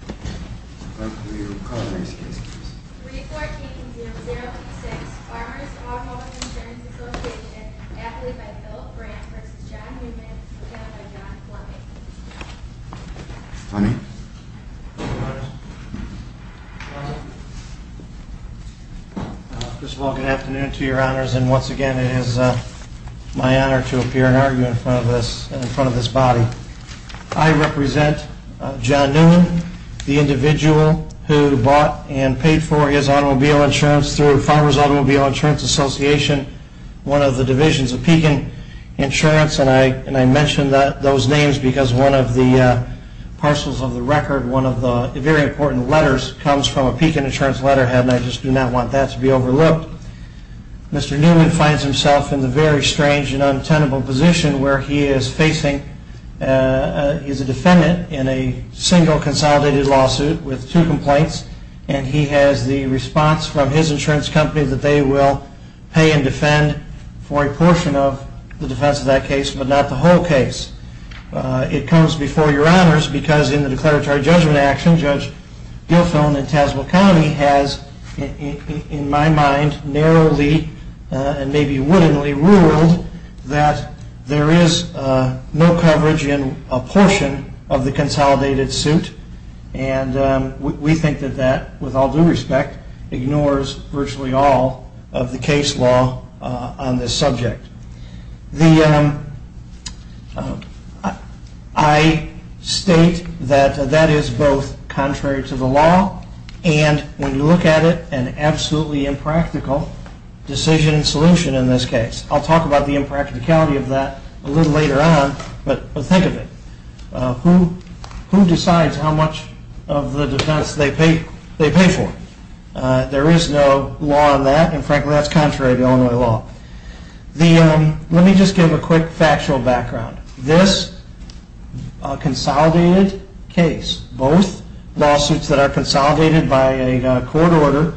Good afternoon to your honors and once again it is my honor to appear in front of this body. I represent John Neumann, the individual who bought and paid for his automobile insurance through Farmers Automobile Insurance Association, one of the divisions of Pekin Insurance and I mention those names because one of the parcels of the record, one of the very important letters comes from a Pekin Insurance letterhead and I just do not want that to be overlooked. Mr. Neumann finds himself in the very strange and untenable position where he is a defendant in a single consolidated lawsuit with two complaints and he has the response from his insurance company that they will pay and defend for a portion of the defense of that case but not the whole case. It comes before your honors because in the declaratory judgment action Judge Guilfone in Tazewell County has in my mind narrowly and maybe wittingly ruled that there is no coverage in a portion of the consolidated suit and we think that that with all due respect ignores virtually all of the case law on this subject. I state that that is both contrary to the law and when you look at it an absolutely impractical decision and solution in this case. I will talk about the impracticality of that a little later on but think of it. Who decides how much of the defense they pay for? There is no law on that and frankly that is contrary to Illinois law. Let me just give a quick factual background. This consolidated case, both lawsuits that are consolidated by a court order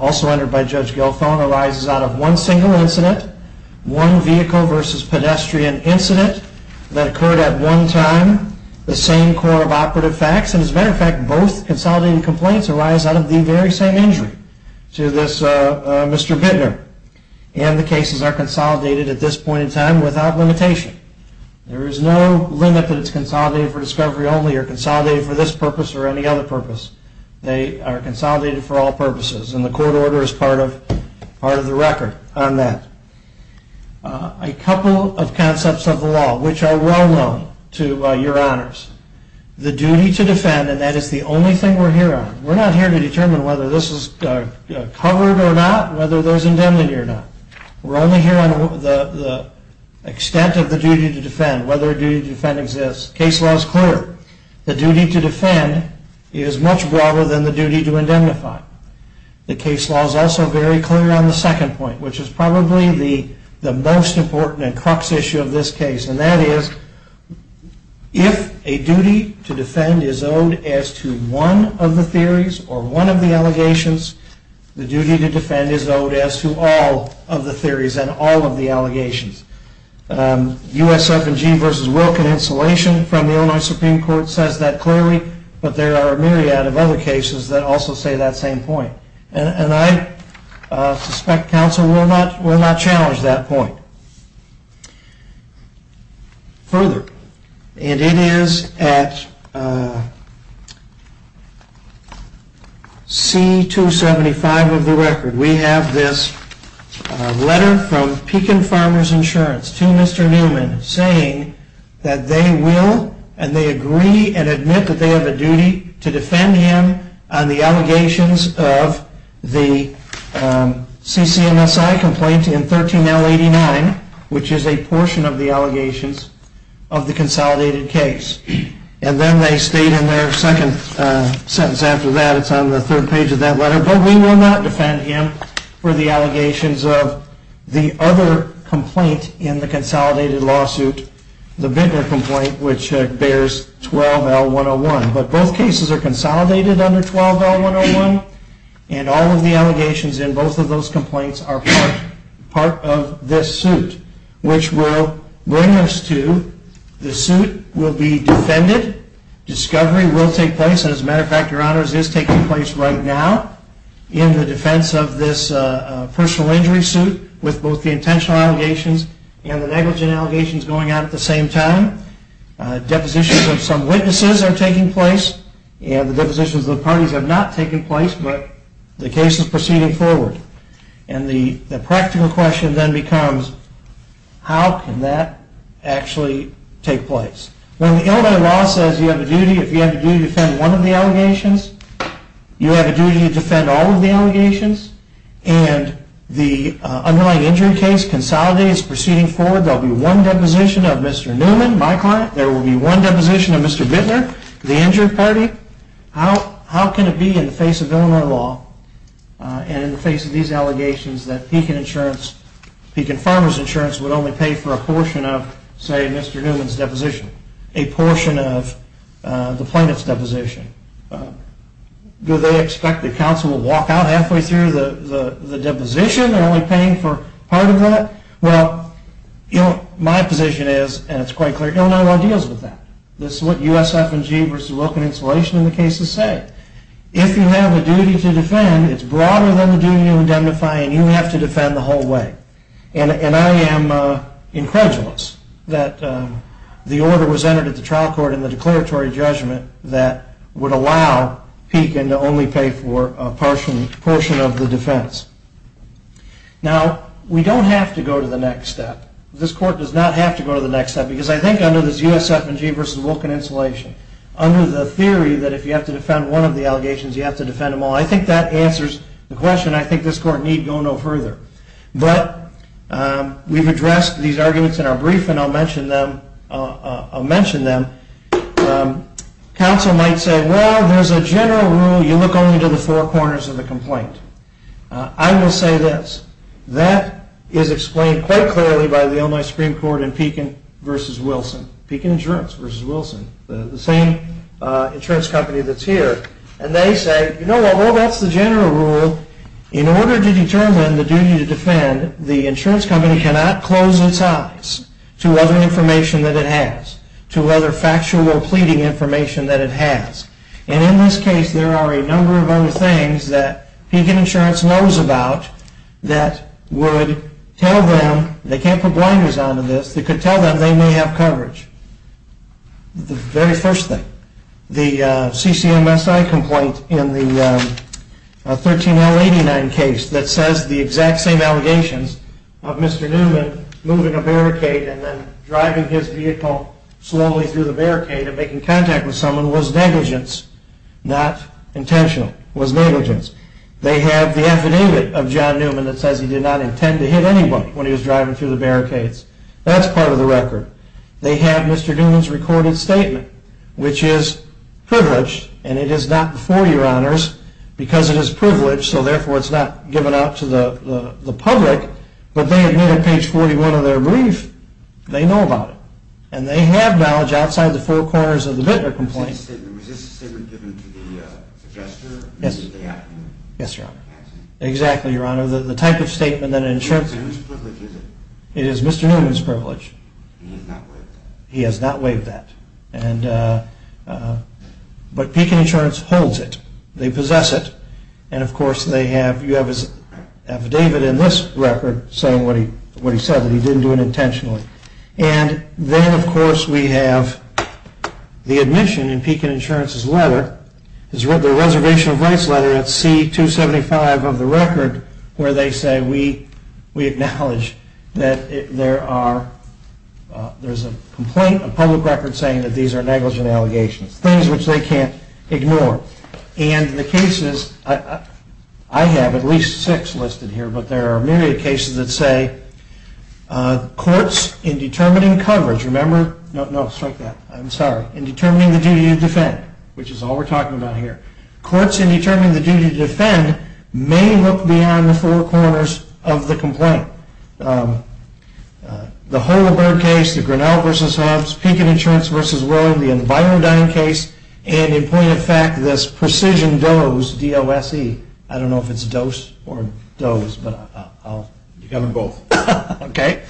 also entered by Judge Guilfone arises out of one single incident, one vehicle versus pedestrian incident that occurred at one time, the same court of operative facts and as a matter of fact both consolidated complaints arise out of the very same injury to this Mr. Bittner and the cases are consolidated at this point in time without limitation. There is no limit that it is consolidated for discovery only or consolidated for this purpose or any other purpose. They are consolidated for all purposes and the court order is part of the record on that. A couple of concepts of the law which are well known to your honors. The duty to defend and that is the only thing we are here on. We are not here to determine whether this is covered or not, whether there is indemnity or not. We are only here on the extent of the duty to defend, whether a duty to defend exists. The case law is clear. The duty to defend is much broader than the duty to indemnify. The case law is also very clear on the second point which is probably the most important and crux issue of this case and that is if a duty to defend is owed as to one of the theories or one of the allegations, the duty to defend is owed as to all of the theories and all of the allegations. USFG versus Wilkin insulation from the Illinois Supreme Court says that clearly but there are a myriad of other cases that also say that same point and I suspect counsel will not challenge that point. Further, and it is at C275 of the record, we have this letter from Pekin Farmers Insurance to Mr. Newman saying that they will and they agree and admit that they have a duty to defend him on the allegations of the CCMSI complaint in 13L89 which is a portion of the allegations of the consolidated case and then they state in their second sentence after that, it is on the third page of that letter, but we will not defend him for the allegations of the other complaint in the consolidated lawsuit, the Bittner complaint which bears 12L101, but both cases are consolidated under 12L101 and all of the allegations in both of those complaints are part of this suit which will bring us to the suit will be defended, discovery will take place and as a matter of fact, your honors, it is taking place right now in the defense of this personal injury suit with both the intentional allegations and the depositions of some witnesses are taking place and the depositions of the parties have not taken place, but the case is proceeding forward and the practical question then becomes how can that actually take place? When the Illinois law says you have a duty to defend one of the allegations, you have a duty to defend all of the allegations and the underlying injury case consolidated is proceeding forward, there will be one deposition of Mr. Newman, my client, there will be one deposition of Mr. Bittner, the injured party, how can it be in the face of Illinois law and in the face of these allegations that Pekin Farmer's Insurance would only pay for a portion of say Mr. Newman's deposition, a portion of the plaintiff's deposition? Do they expect that counsel will walk out halfway through the deposition and only paying for part of that? Well, my position is, and it's quite clear, Illinois law deals with that. This is what USF&G versus Wilkin Installation in the cases say. If you have a duty to defend, it's broader than the duty to indemnify and you have to defend the whole way. And I am incredulous that the order was entered at the trial court in the declaratory judgment that would allow Pekin to only pay for a portion of the defense. Now, we don't have to go to the next step. This court does not have to go to the next step because I think under this USF&G versus Wilkin Installation, under the theory that if you have to defend one of the allegations, you have to defend them all, I think that answers the question. I think this court need go no further. But we've addressed these arguments in our brief and I'll mention them. Counsel might say, well, there's a general rule, you look only to the four corners of the complaint. I will say this, that is explained quite clearly by the Illinois Supreme Court in Pekin versus Wilson, Pekin Insurance versus Wilson, the same insurance company that's here. And they say, you know, well, that's the general rule. In order to determine the duty to defend, the insurance company cannot close its eyes to other information that it has, to other factual pleading information that it has. And in this case, there are a number of other things that Pekin Insurance knows about that would tell them, they can't put blinders on to this, that could tell them they may have coverage. The very first thing, the CCMSI complaint in the 13-089 case that says the exact same allegations of Mr. Newman moving a barricade and then driving his vehicle slowly through the barricade and making contact with someone was negligence, not intentional, was negligence. They have the affidavit of John Newman that says he did not intend to hit anybody when he was driving through the barricades. That's part of the record. They have Mr. Newman's recorded statement, which is privileged, and it is not before your honors, because it is privileged, so therefore it's not given out to the public, but they admit on page 41 of their brief, they know about it. And they have knowledge outside the four corners of the Bittner complaint. Was this statement given to the adjuster? Yes, your honor. Exactly, your honor. The type of statement that an insurance... And whose privilege is it? It is Mr. Newman's privilege. And he has not waived that? He has not waived that. But Pekin Insurance holds it. They possess it. And of course, they have, you have his affidavit in this record saying what he said, that he didn't do it intentionally. And then, of course, we have the admission in Pekin Insurance's letter, the Reservation of Rights letter at C-275 of the record, where they say we acknowledge that there are, there's a complaint, a public record saying that these are negligent allegations, things which they can't ignore. And the cases, I have at least six listed here, but there are a myriad of cases that say courts in determining coverage, remember? No, no, strike that. I'm sorry. In determining the duty to defend, which is all we're talking about here. Courts in determining the duty to defend may look beyond the four corners of the complaint. The Holabird case, the Grinnell v. Hobbs, Pekin Insurance v. Rowe, the Environdyne case, and in point of fact, this Precision Dose, D-O-S-E. I don't know if it's dose or dose, but I'll, you got them both. Okay?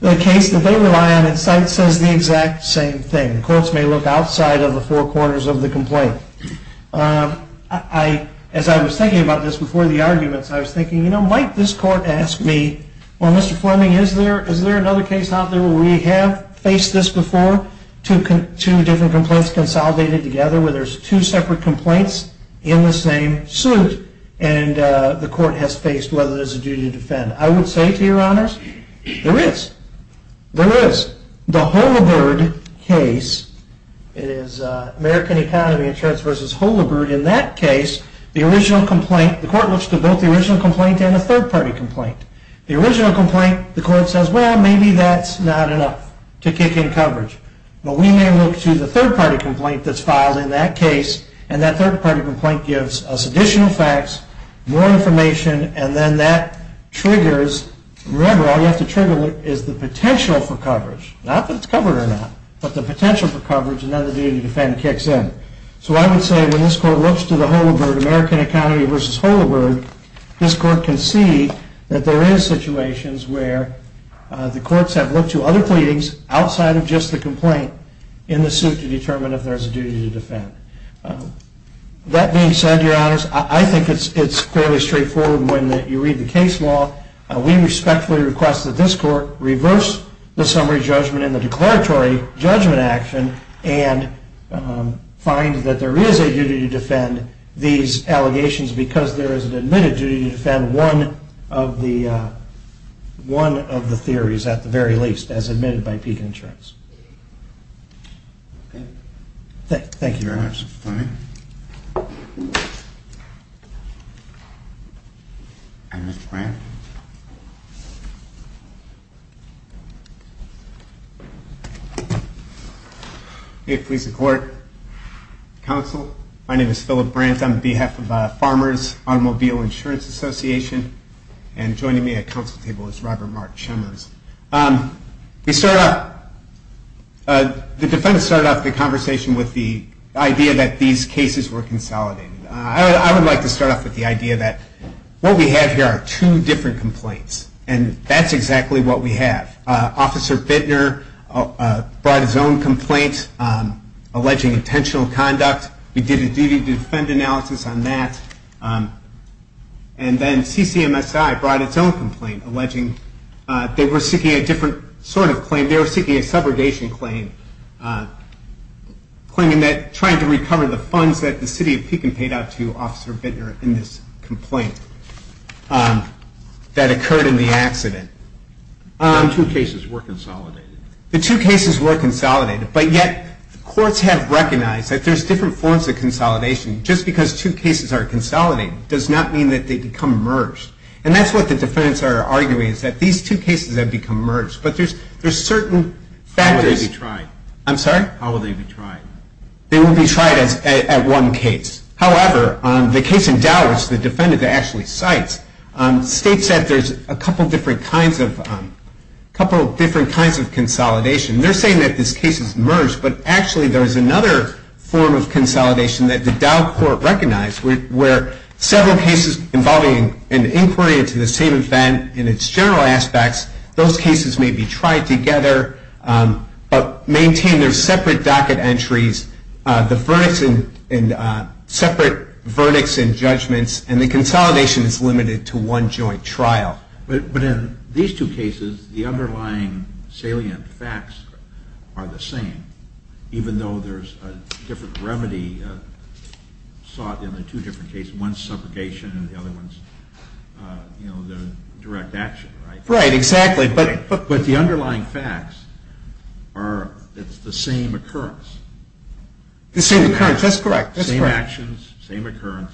The case that they rely on at site says the exact same thing. Courts may look outside of the four corners of the complaint. I, as I was thinking about this before the arguments, I was thinking, you know, might this court ask me, well, Mr. Fleming, is there, is there another case out there where we have faced this before? Two different complaints consolidated together where there's two separate complaints in the same suit. And the court has faced whether there's a duty to defend. I would say, to your honors, there is. There is. The Holabird case, it is American Economy Insurance v. Holabird. In that case, the original complaint, the court looks to both the original complaint and the third party complaint. The original complaint, the court says, well, maybe that's not enough to kick in coverage. But we may look to the third party complaint that's filed in that case, and that third party complaint gives us additional facts, more information, and then that triggers, remember, all you have to trigger is the potential for coverage. Not that it's covered or not, but the potential for coverage, and then the duty to defend kicks in. So I would say when this court looks to the Holabird, American Economy v. Holabird, this court can see that there is situations where the courts have looked to other pleadings outside of just the complaint in the suit to determine if there's a duty to defend. That being said, your honors, I think it's fairly straightforward when you read the case law. We respectfully request that this court reverse the summary judgment and the declaratory judgment action and find that there is a duty to defend these allegations because there is an admitted duty to defend one of the theories, at the very least, as admitted by Pekin Insurance. Thank you, your honors. And Mr. Brandt? May it please the court, counsel, my name is Philip Brandt. I'm on behalf of Farmers Automobile Insurance Association, and joining me at counsel table is Robert Mark Chalmers. The defense started off the conversation with the idea that these cases were consolidated. I would like to start off with the idea that what we have here are two different complaints, and that's exactly what we have. Officer Bittner brought his own complaint alleging intentional conduct. We did a duty to defend analysis on that. And then CCMSI brought its own complaint alleging they were seeking a different sort of claim. They were seeking a subrogation claim, claiming that trying to recover the funds that the city of Pekin paid out to Officer Bittner in this complaint that occurred in the accident. The two cases were consolidated. The two cases were consolidated, but yet courts have recognized that there's different forms of consolidation. Just because two cases are consolidated does not mean that they become merged. And that's what the defendants are arguing, is that these two cases have become merged. But there's certain factors. How will they be tried? I'm sorry? How will they be tried? They will be tried at one case. However, the case in Dallas, the defendant that actually cites, states that there's a couple different kinds of consolidation. They're saying that this case is merged, but actually there is another form of consolidation that the Dow Court recognized where several cases involving an inquiry are consolidated to the same event in its general aspects. Those cases may be tried together, but maintain their separate docket entries, the separate verdicts and judgments, and the consolidation is limited to one joint trial. But in these two cases, the underlying salient facts are the same, even though there's a different remedy sought in the two different cases, one's subrogation and the other one's direct action, right? Right, exactly. But the underlying facts are it's the same occurrence. The same occurrence, that's correct. Same actions, same occurrence,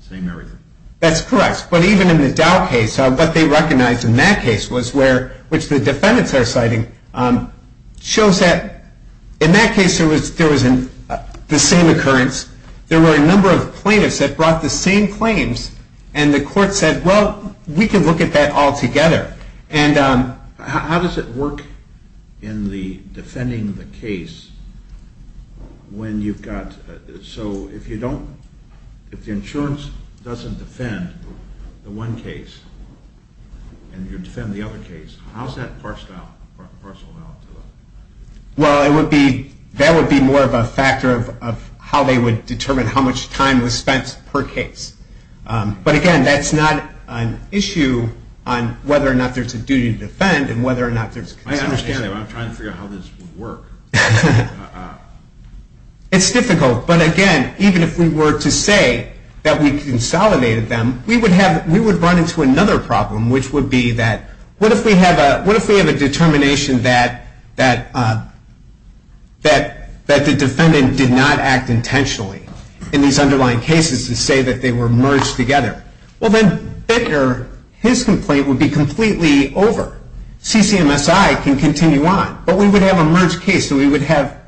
same everything. That's correct. But even in the Dow case, what they recognized in that case was where, which the defendants are citing, shows that in that case there was the same occurrence. There were a number of plaintiffs that brought the same claims, and the court said, well, we can look at that all together. And how does it work in the defending the case when you've got, so if you don't, if the insurance doesn't defend the one case and you defend the other case, how's that partial amount? Well, it would be, that would be more of a factor of how they would determine how much time was spent per case. But, again, that's not an issue on whether or not there's a duty to defend and whether or not there's consideration. I understand that, but I'm trying to figure out how this would work. It's difficult, but, again, even if we were to say that we consolidated them, we would have, we would run into another problem, which would be that, what if we have a determination that the defendant did not act intentionally in these underlying cases to say that they were merged together? Well, then Bittner, his complaint would be completely over. CCMSI can continue on, but we would have a merged case, so we would have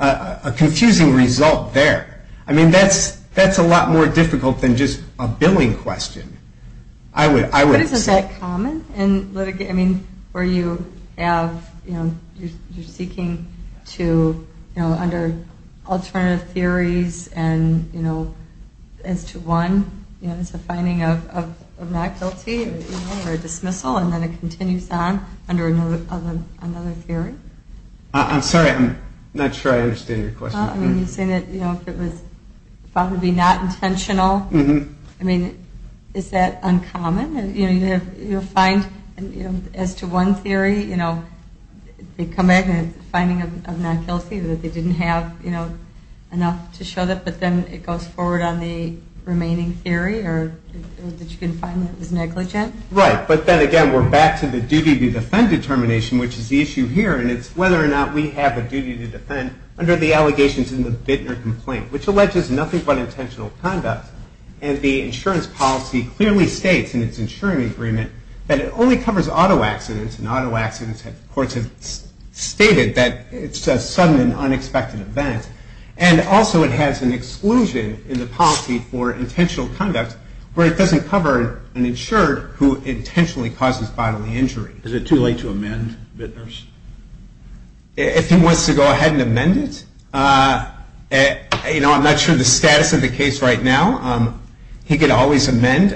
a confusing result there. I mean, that's a lot more difficult than just a billing question. But isn't that common in litigate, I mean, where you have, you know, you're seeking to, you know, under alternative theories and, you know, as to one, you know, it's a finding of not guilty or a dismissal, and then it continues on under another theory? I'm sorry, I'm not sure I understand your question. I mean, you're saying that, you know, if it was found to be not intentional, I mean, is that uncommon? You know, you'll find, as to one theory, you know, they come back and it's a finding of not guilty, that they didn't have, you know, enough to show that, but then it goes forward on the remaining theory, or that you can find that it was negligent? Right, but then again, we're back to the duty to defend determination, which is the issue here, and it's whether or not we have a duty to defend under the allegations in the Bittner complaint, which alleges nothing but intentional conduct, and the insurance policy clearly states in its insuring agreement that it only covers auto accidents, and auto accidents, courts have stated that it's a sudden and unexpected event, and also it has an exclusion in the policy for intentional conduct where it doesn't cover an insured who intentionally causes bodily injury. Is it too late to amend Bittners? If he wants to go ahead and amend it? You know, I'm not sure of the status of the case right now. He could always amend,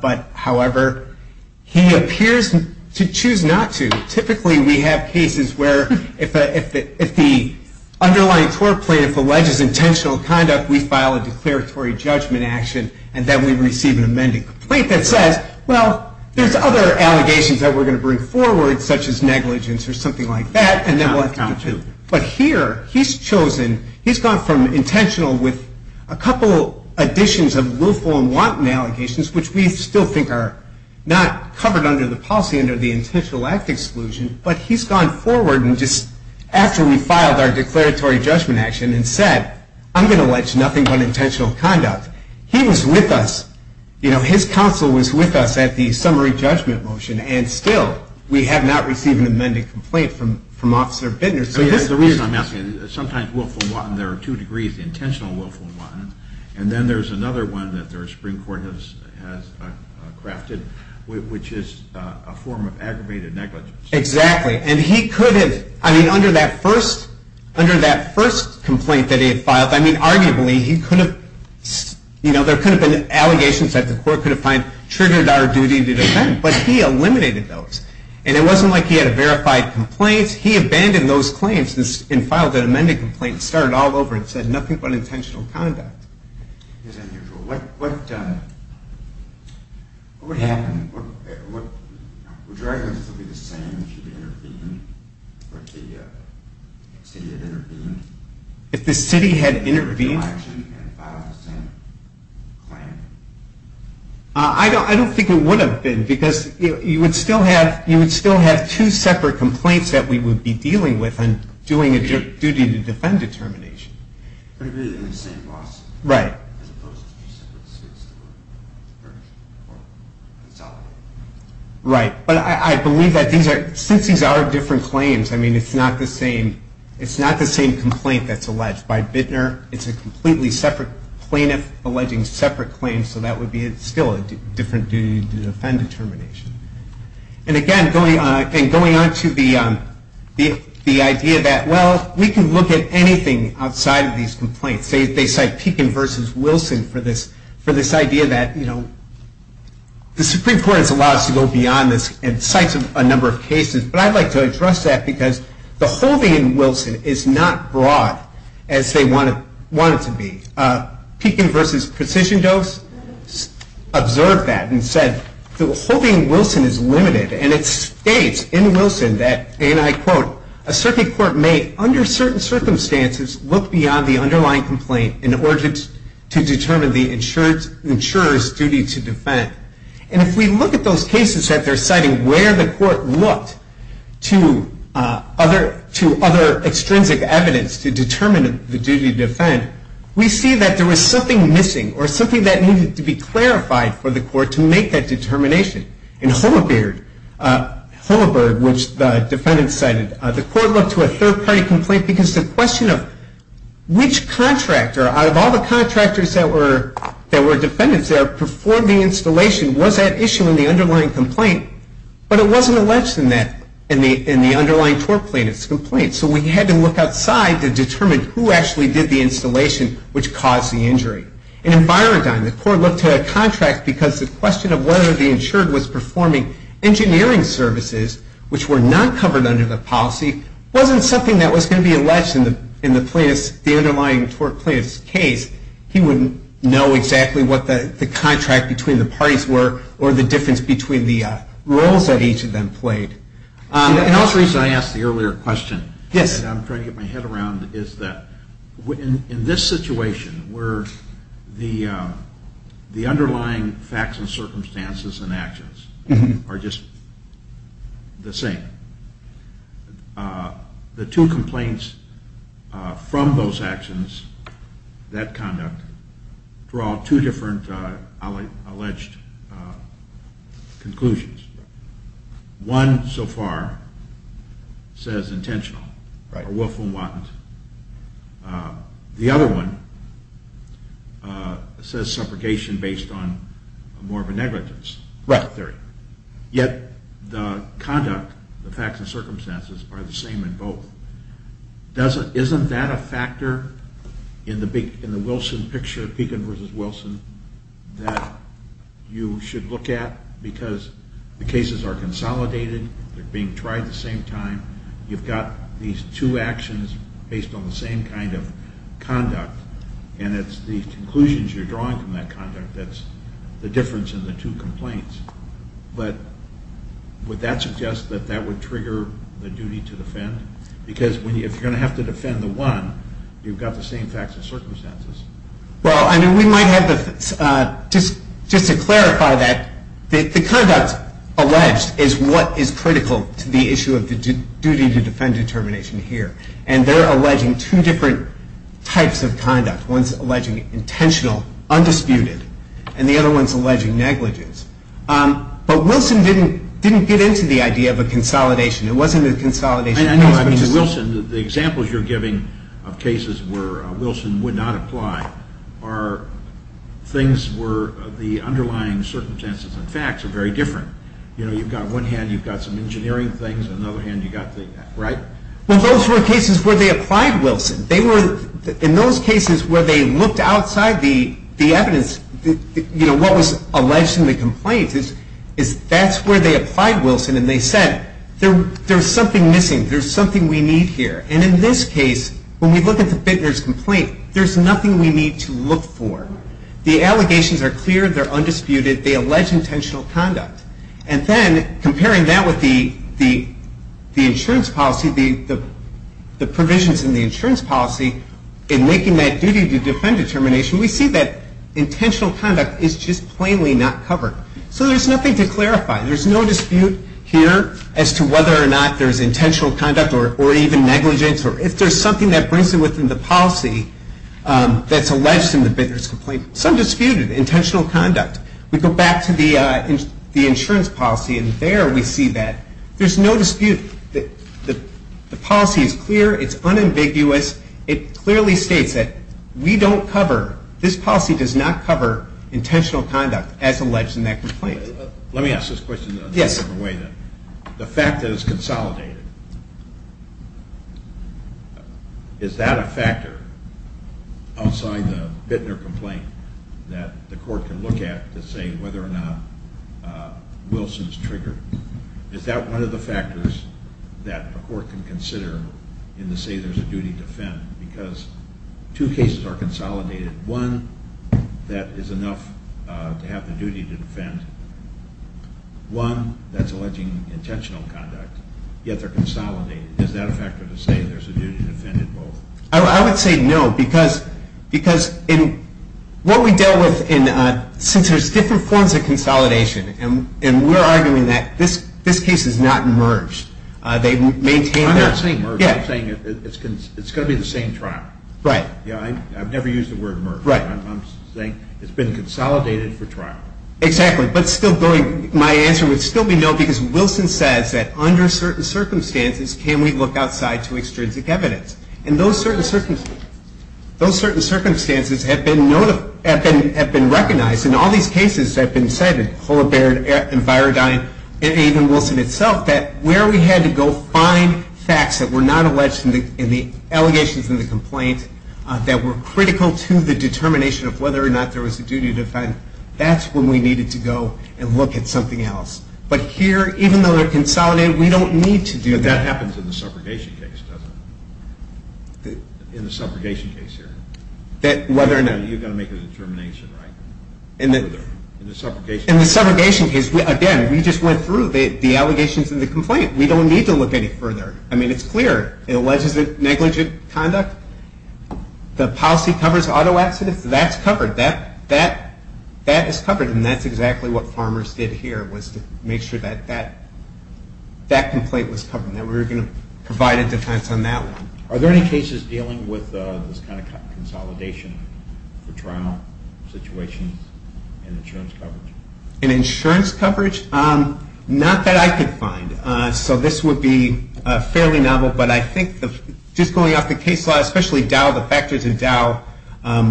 but however, he appears to choose not to. Typically, we have cases where if the underlying tort plaintiff alleges intentional conduct, we file a declaratory judgment action, and then we receive an amended complaint that says, well, there's other allegations that we're going to bring forward, such as negligence or something like that, and then we'll account to. But here, he's chosen, he's gone from intentional with a couple additions of willful and wanton allegations, which we still think are not covered under the policy under the intentional act exclusion, but he's gone forward and just actually filed our declaratory judgment action and said, I'm going to allege nothing but intentional conduct. He was with us. You know, his counsel was with us at the summary judgment motion, and still we have not received an amended complaint from Officer Bittner. The reason I'm asking, sometimes willful and wanton, there are two degrees, intentional willful and wanton, and then there's another one that the Supreme Court has crafted, which is a form of aggravated negligence. Exactly. And he could have, I mean, under that first complaint that he had filed, I mean, arguably, he could have, you know, there could have been allegations that the court could have found triggered our duty to defend, but he eliminated those. And it wasn't like he had a verified complaint. He abandoned those claims and filed an amended complaint and started all over and said nothing but intentional conduct. What would happen? Would your arguments still be the same if you had intervened, if the city had intervened? If the city had intervened? And filed the same claim? I don't think it would have been, because you would still have two separate complaints that we would be dealing with on doing a duty to defend determination. But it would have been in the same lawsuit. Right. As opposed to two separate suits. Right. But I believe that these are, since these are different claims, I mean, it's not the same complaint that's alleged by Bittner. It's a completely separate plaintiff alleging separate claims, so that would be still a different duty to defend determination. And, again, going on to the idea that, well, we can look at anything outside of these complaints. They cite Pekin versus Wilson for this idea that, you know, the Supreme Court has allowed us to go beyond this and cites a number of cases, but I'd like to address that because the holding in Wilson is not broad as they want it to be. Pekin versus Precision Dose observed that and said the holding in Wilson is limited, and it states in Wilson that, and I quote, a circuit court may, under certain circumstances, look beyond the underlying complaint in order to determine the insurer's duty to defend. And if we look at those cases that they're citing where the court looked to other extrinsic evidence to determine the duty to defend, we see that there was something missing or something that needed to be clarified for the court to make that determination. In Holabird, which the defendants cited, the court looked to a third-party complaint because the question of which contractor out of all the contractors that were defendants there performed the installation was that issue in the underlying complaint, but it wasn't alleged in the underlying tort plaintiff's complaint. So we had to look outside to determine who actually did the installation which caused the injury. And in Byrondine, the court looked to a contract because the question of whether the insured was performing engineering services, which were not covered under the policy, wasn't something that was going to be alleged in the plaintiff's, the underlying tort plaintiff's case. He wouldn't know exactly what the contract between the parties were or the difference between the roles that each of them played. Another reason I asked the earlier question and I'm trying to get my head around is that in this situation where the underlying facts and circumstances and actions are just the same, the two complaints from those actions, that conduct, draw two different alleged conclusions. One so far says intentional or willful and wanton. The other one says subrogation based on more of a negligence theory. Yet the conduct, the facts and circumstances are the same in both. Isn't that a factor in the Wilson picture, that you should look at because the cases are consolidated. They're being tried at the same time. You've got these two actions based on the same kind of conduct. And it's the conclusions you're drawing from that conduct that's the difference in the two complaints. But would that suggest that that would trigger the duty to defend? Because if you're going to have to defend the one, you've got the same facts and circumstances. Well, I mean, we might have the, just to clarify that, the conduct alleged is what is critical to the issue of the duty to defend determination here. And they're alleging two different types of conduct. One's alleging intentional, undisputed. And the other one's alleging negligence. But Wilson didn't get into the idea of a consolidation. It wasn't a consolidation case. I mean, Wilson, the examples you're giving of cases where Wilson would not apply are things where the underlying circumstances and facts are very different. You know, you've got one hand, you've got some engineering things. On the other hand, you've got the, right? Well, those were cases where they applied Wilson. They were, in those cases where they looked outside the evidence, you know, what was alleged in the complaints, is that's where they applied Wilson. And they said, there's something missing. There's something we need here. And in this case, when we look at the Bittner's complaint, there's nothing we need to look for. The allegations are clear. They're undisputed. They allege intentional conduct. And then comparing that with the insurance policy, the provisions in the insurance policy in making that duty to defend determination, we see that intentional conduct is just plainly not covered. So there's nothing to clarify. There's no dispute here as to whether or not there's intentional conduct or even negligence, or if there's something that brings it within the policy that's alleged in the Bittner's complaint. Some dispute it, intentional conduct. We go back to the insurance policy, and there we see that there's no dispute. The policy is clear. It's unambiguous. It clearly states that we don't cover, this policy does not cover intentional conduct as alleged in that complaint. Let me ask this question in a different way then. Yes. The fact that it's consolidated, is that a factor outside the Bittner complaint that the court can look at to say whether or not Wilson's triggered? Is that one of the factors that a court can consider in the say there's a duty to defend? Because two cases are consolidated. One that is enough to have the duty to defend. One that's alleging intentional conduct, yet they're consolidated. Is that a factor to say there's a duty to defend in both? I would say no, because what we deal with, since there's different forms of consolidation, and we're arguing that this case is not merged. I'm not saying merged. I'm saying it's going to be the same trial. Right. I've never used the word merged. Right. I'm saying it's been consolidated for trial. Exactly. But still going, my answer would still be no, because Wilson says that under certain circumstances can we look outside to extrinsic evidence. And those certain circumstances have been recognized in all these cases that have been cited, Holabird and Virodine and even Wilson itself, that where we had to go find facts that were not alleged in the allegations and the complaint that were critical to the determination of whether or not there was a duty to defend, that's when we needed to go and look at something else. But here, even though they're consolidated, we don't need to do that. But that happens in the subrogation case, doesn't it? In the subrogation case here. Whether or not you're going to make a determination, right? In the subrogation case. In the subrogation case, again, we just went through the allegations and the complaint. We don't need to look any further. I mean, it's clear. In alleged negligent conduct, the policy covers auto accidents. That's covered. That is covered, and that's exactly what farmers did here, was to make sure that that complaint was covered and that we were going to provide a defense on that one. Are there any cases dealing with this kind of consolidation for trial situations and insurance coverage? In insurance coverage, not that I could find. So this would be fairly novel, but I think just going off the case law, especially Dow, the factors in Dow,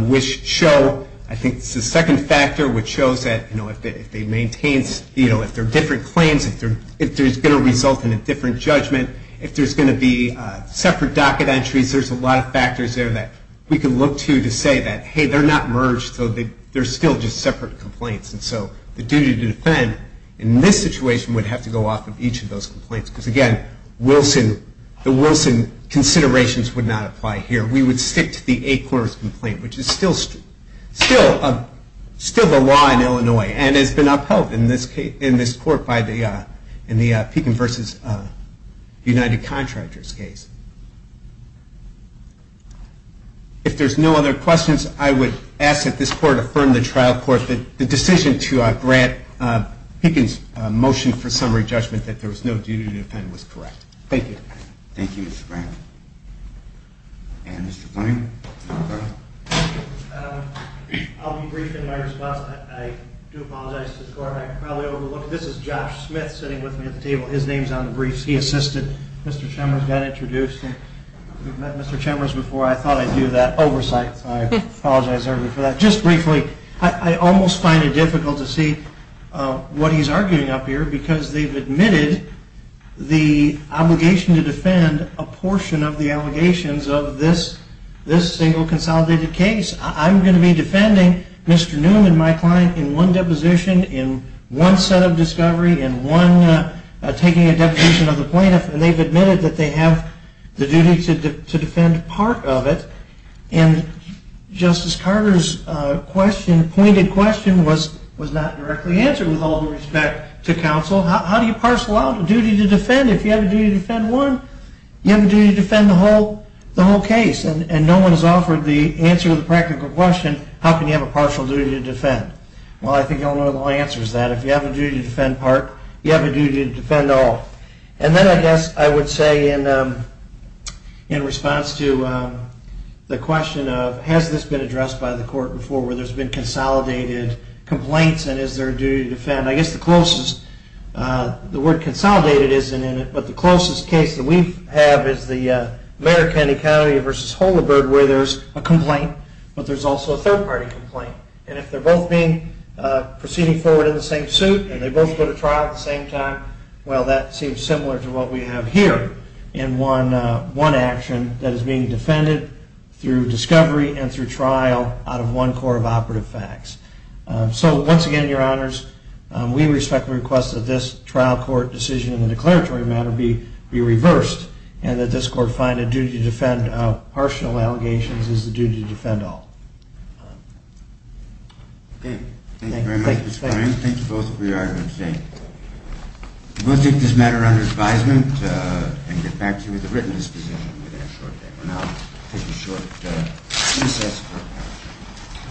which show, I think it's the second factor, which shows that if they maintain, if there are different claims, if there's going to result in a different judgment, if there's going to be separate docket entries, there's a lot of factors there that we can look to to say that, hey, they're not merged, so they're still just separate complaints. And so the duty to defend in this situation would have to go off of each of those complaints because, again, the Wilson considerations would not apply here. We would stick to the Acorn's complaint, which is still the law in Illinois and has been upheld in this court in the Pekin v. United Contractors case. If there's no other questions, I would ask that this court affirm the trial court and that the decision to grant Pekin's motion for summary judgment that there was no duty to defend was correct. Thank you. Thank you, Mr. Grant. And Mr. Blank? I'll be brief in my response. I do apologize to this court. I probably overlooked it. This is Josh Smith sitting with me at the table. His name's on the briefs. He assisted Mr. Chemers, got introduced. We've met Mr. Chemers before. I thought I knew that oversight, so I apologize for that. Just briefly, I almost find it difficult to see what he's arguing up here because they've admitted the obligation to defend a portion of the allegations of this single consolidated case. I'm going to be defending Mr. Newman, my client, in one deposition, in one set of discovery, in one taking a deposition of the plaintiff, and they've admitted that they have the duty to defend part of it. And Justice Carter's question, pointed question, was not directly answered with all due respect to counsel. How do you parcel out a duty to defend? If you have a duty to defend one, you have a duty to defend the whole case, and no one has offered the answer to the practical question, how can you have a partial duty to defend? Well, I think you all know the answer is that. If you have a duty to defend part, you have a duty to defend all. And then I guess I would say in response to the question of has this been addressed by the court before, where there's been consolidated complaints and is there a duty to defend, I guess the closest, the word consolidated isn't in it, but the closest case that we have is the Mayor of Kennedy County versus Holabird where there's a complaint, but there's also a third-party complaint. And if they're both proceeding forward in the same suit and they both go to trial at the same time, well, that seems similar to what we have here in one action that is being defended through discovery and through trial out of one court of operative facts. So once again, Your Honors, we respectfully request that this trial court decision in the declaratory matter be reversed and that this court find a duty to defend partial allegations is the duty to defend all. Okay. Thank you very much, Mr. Cohen. Thank you both for your honorable statement. We'll take this matter under advisement and get back to you with a written disposition within a short time. And I'll take a short recess.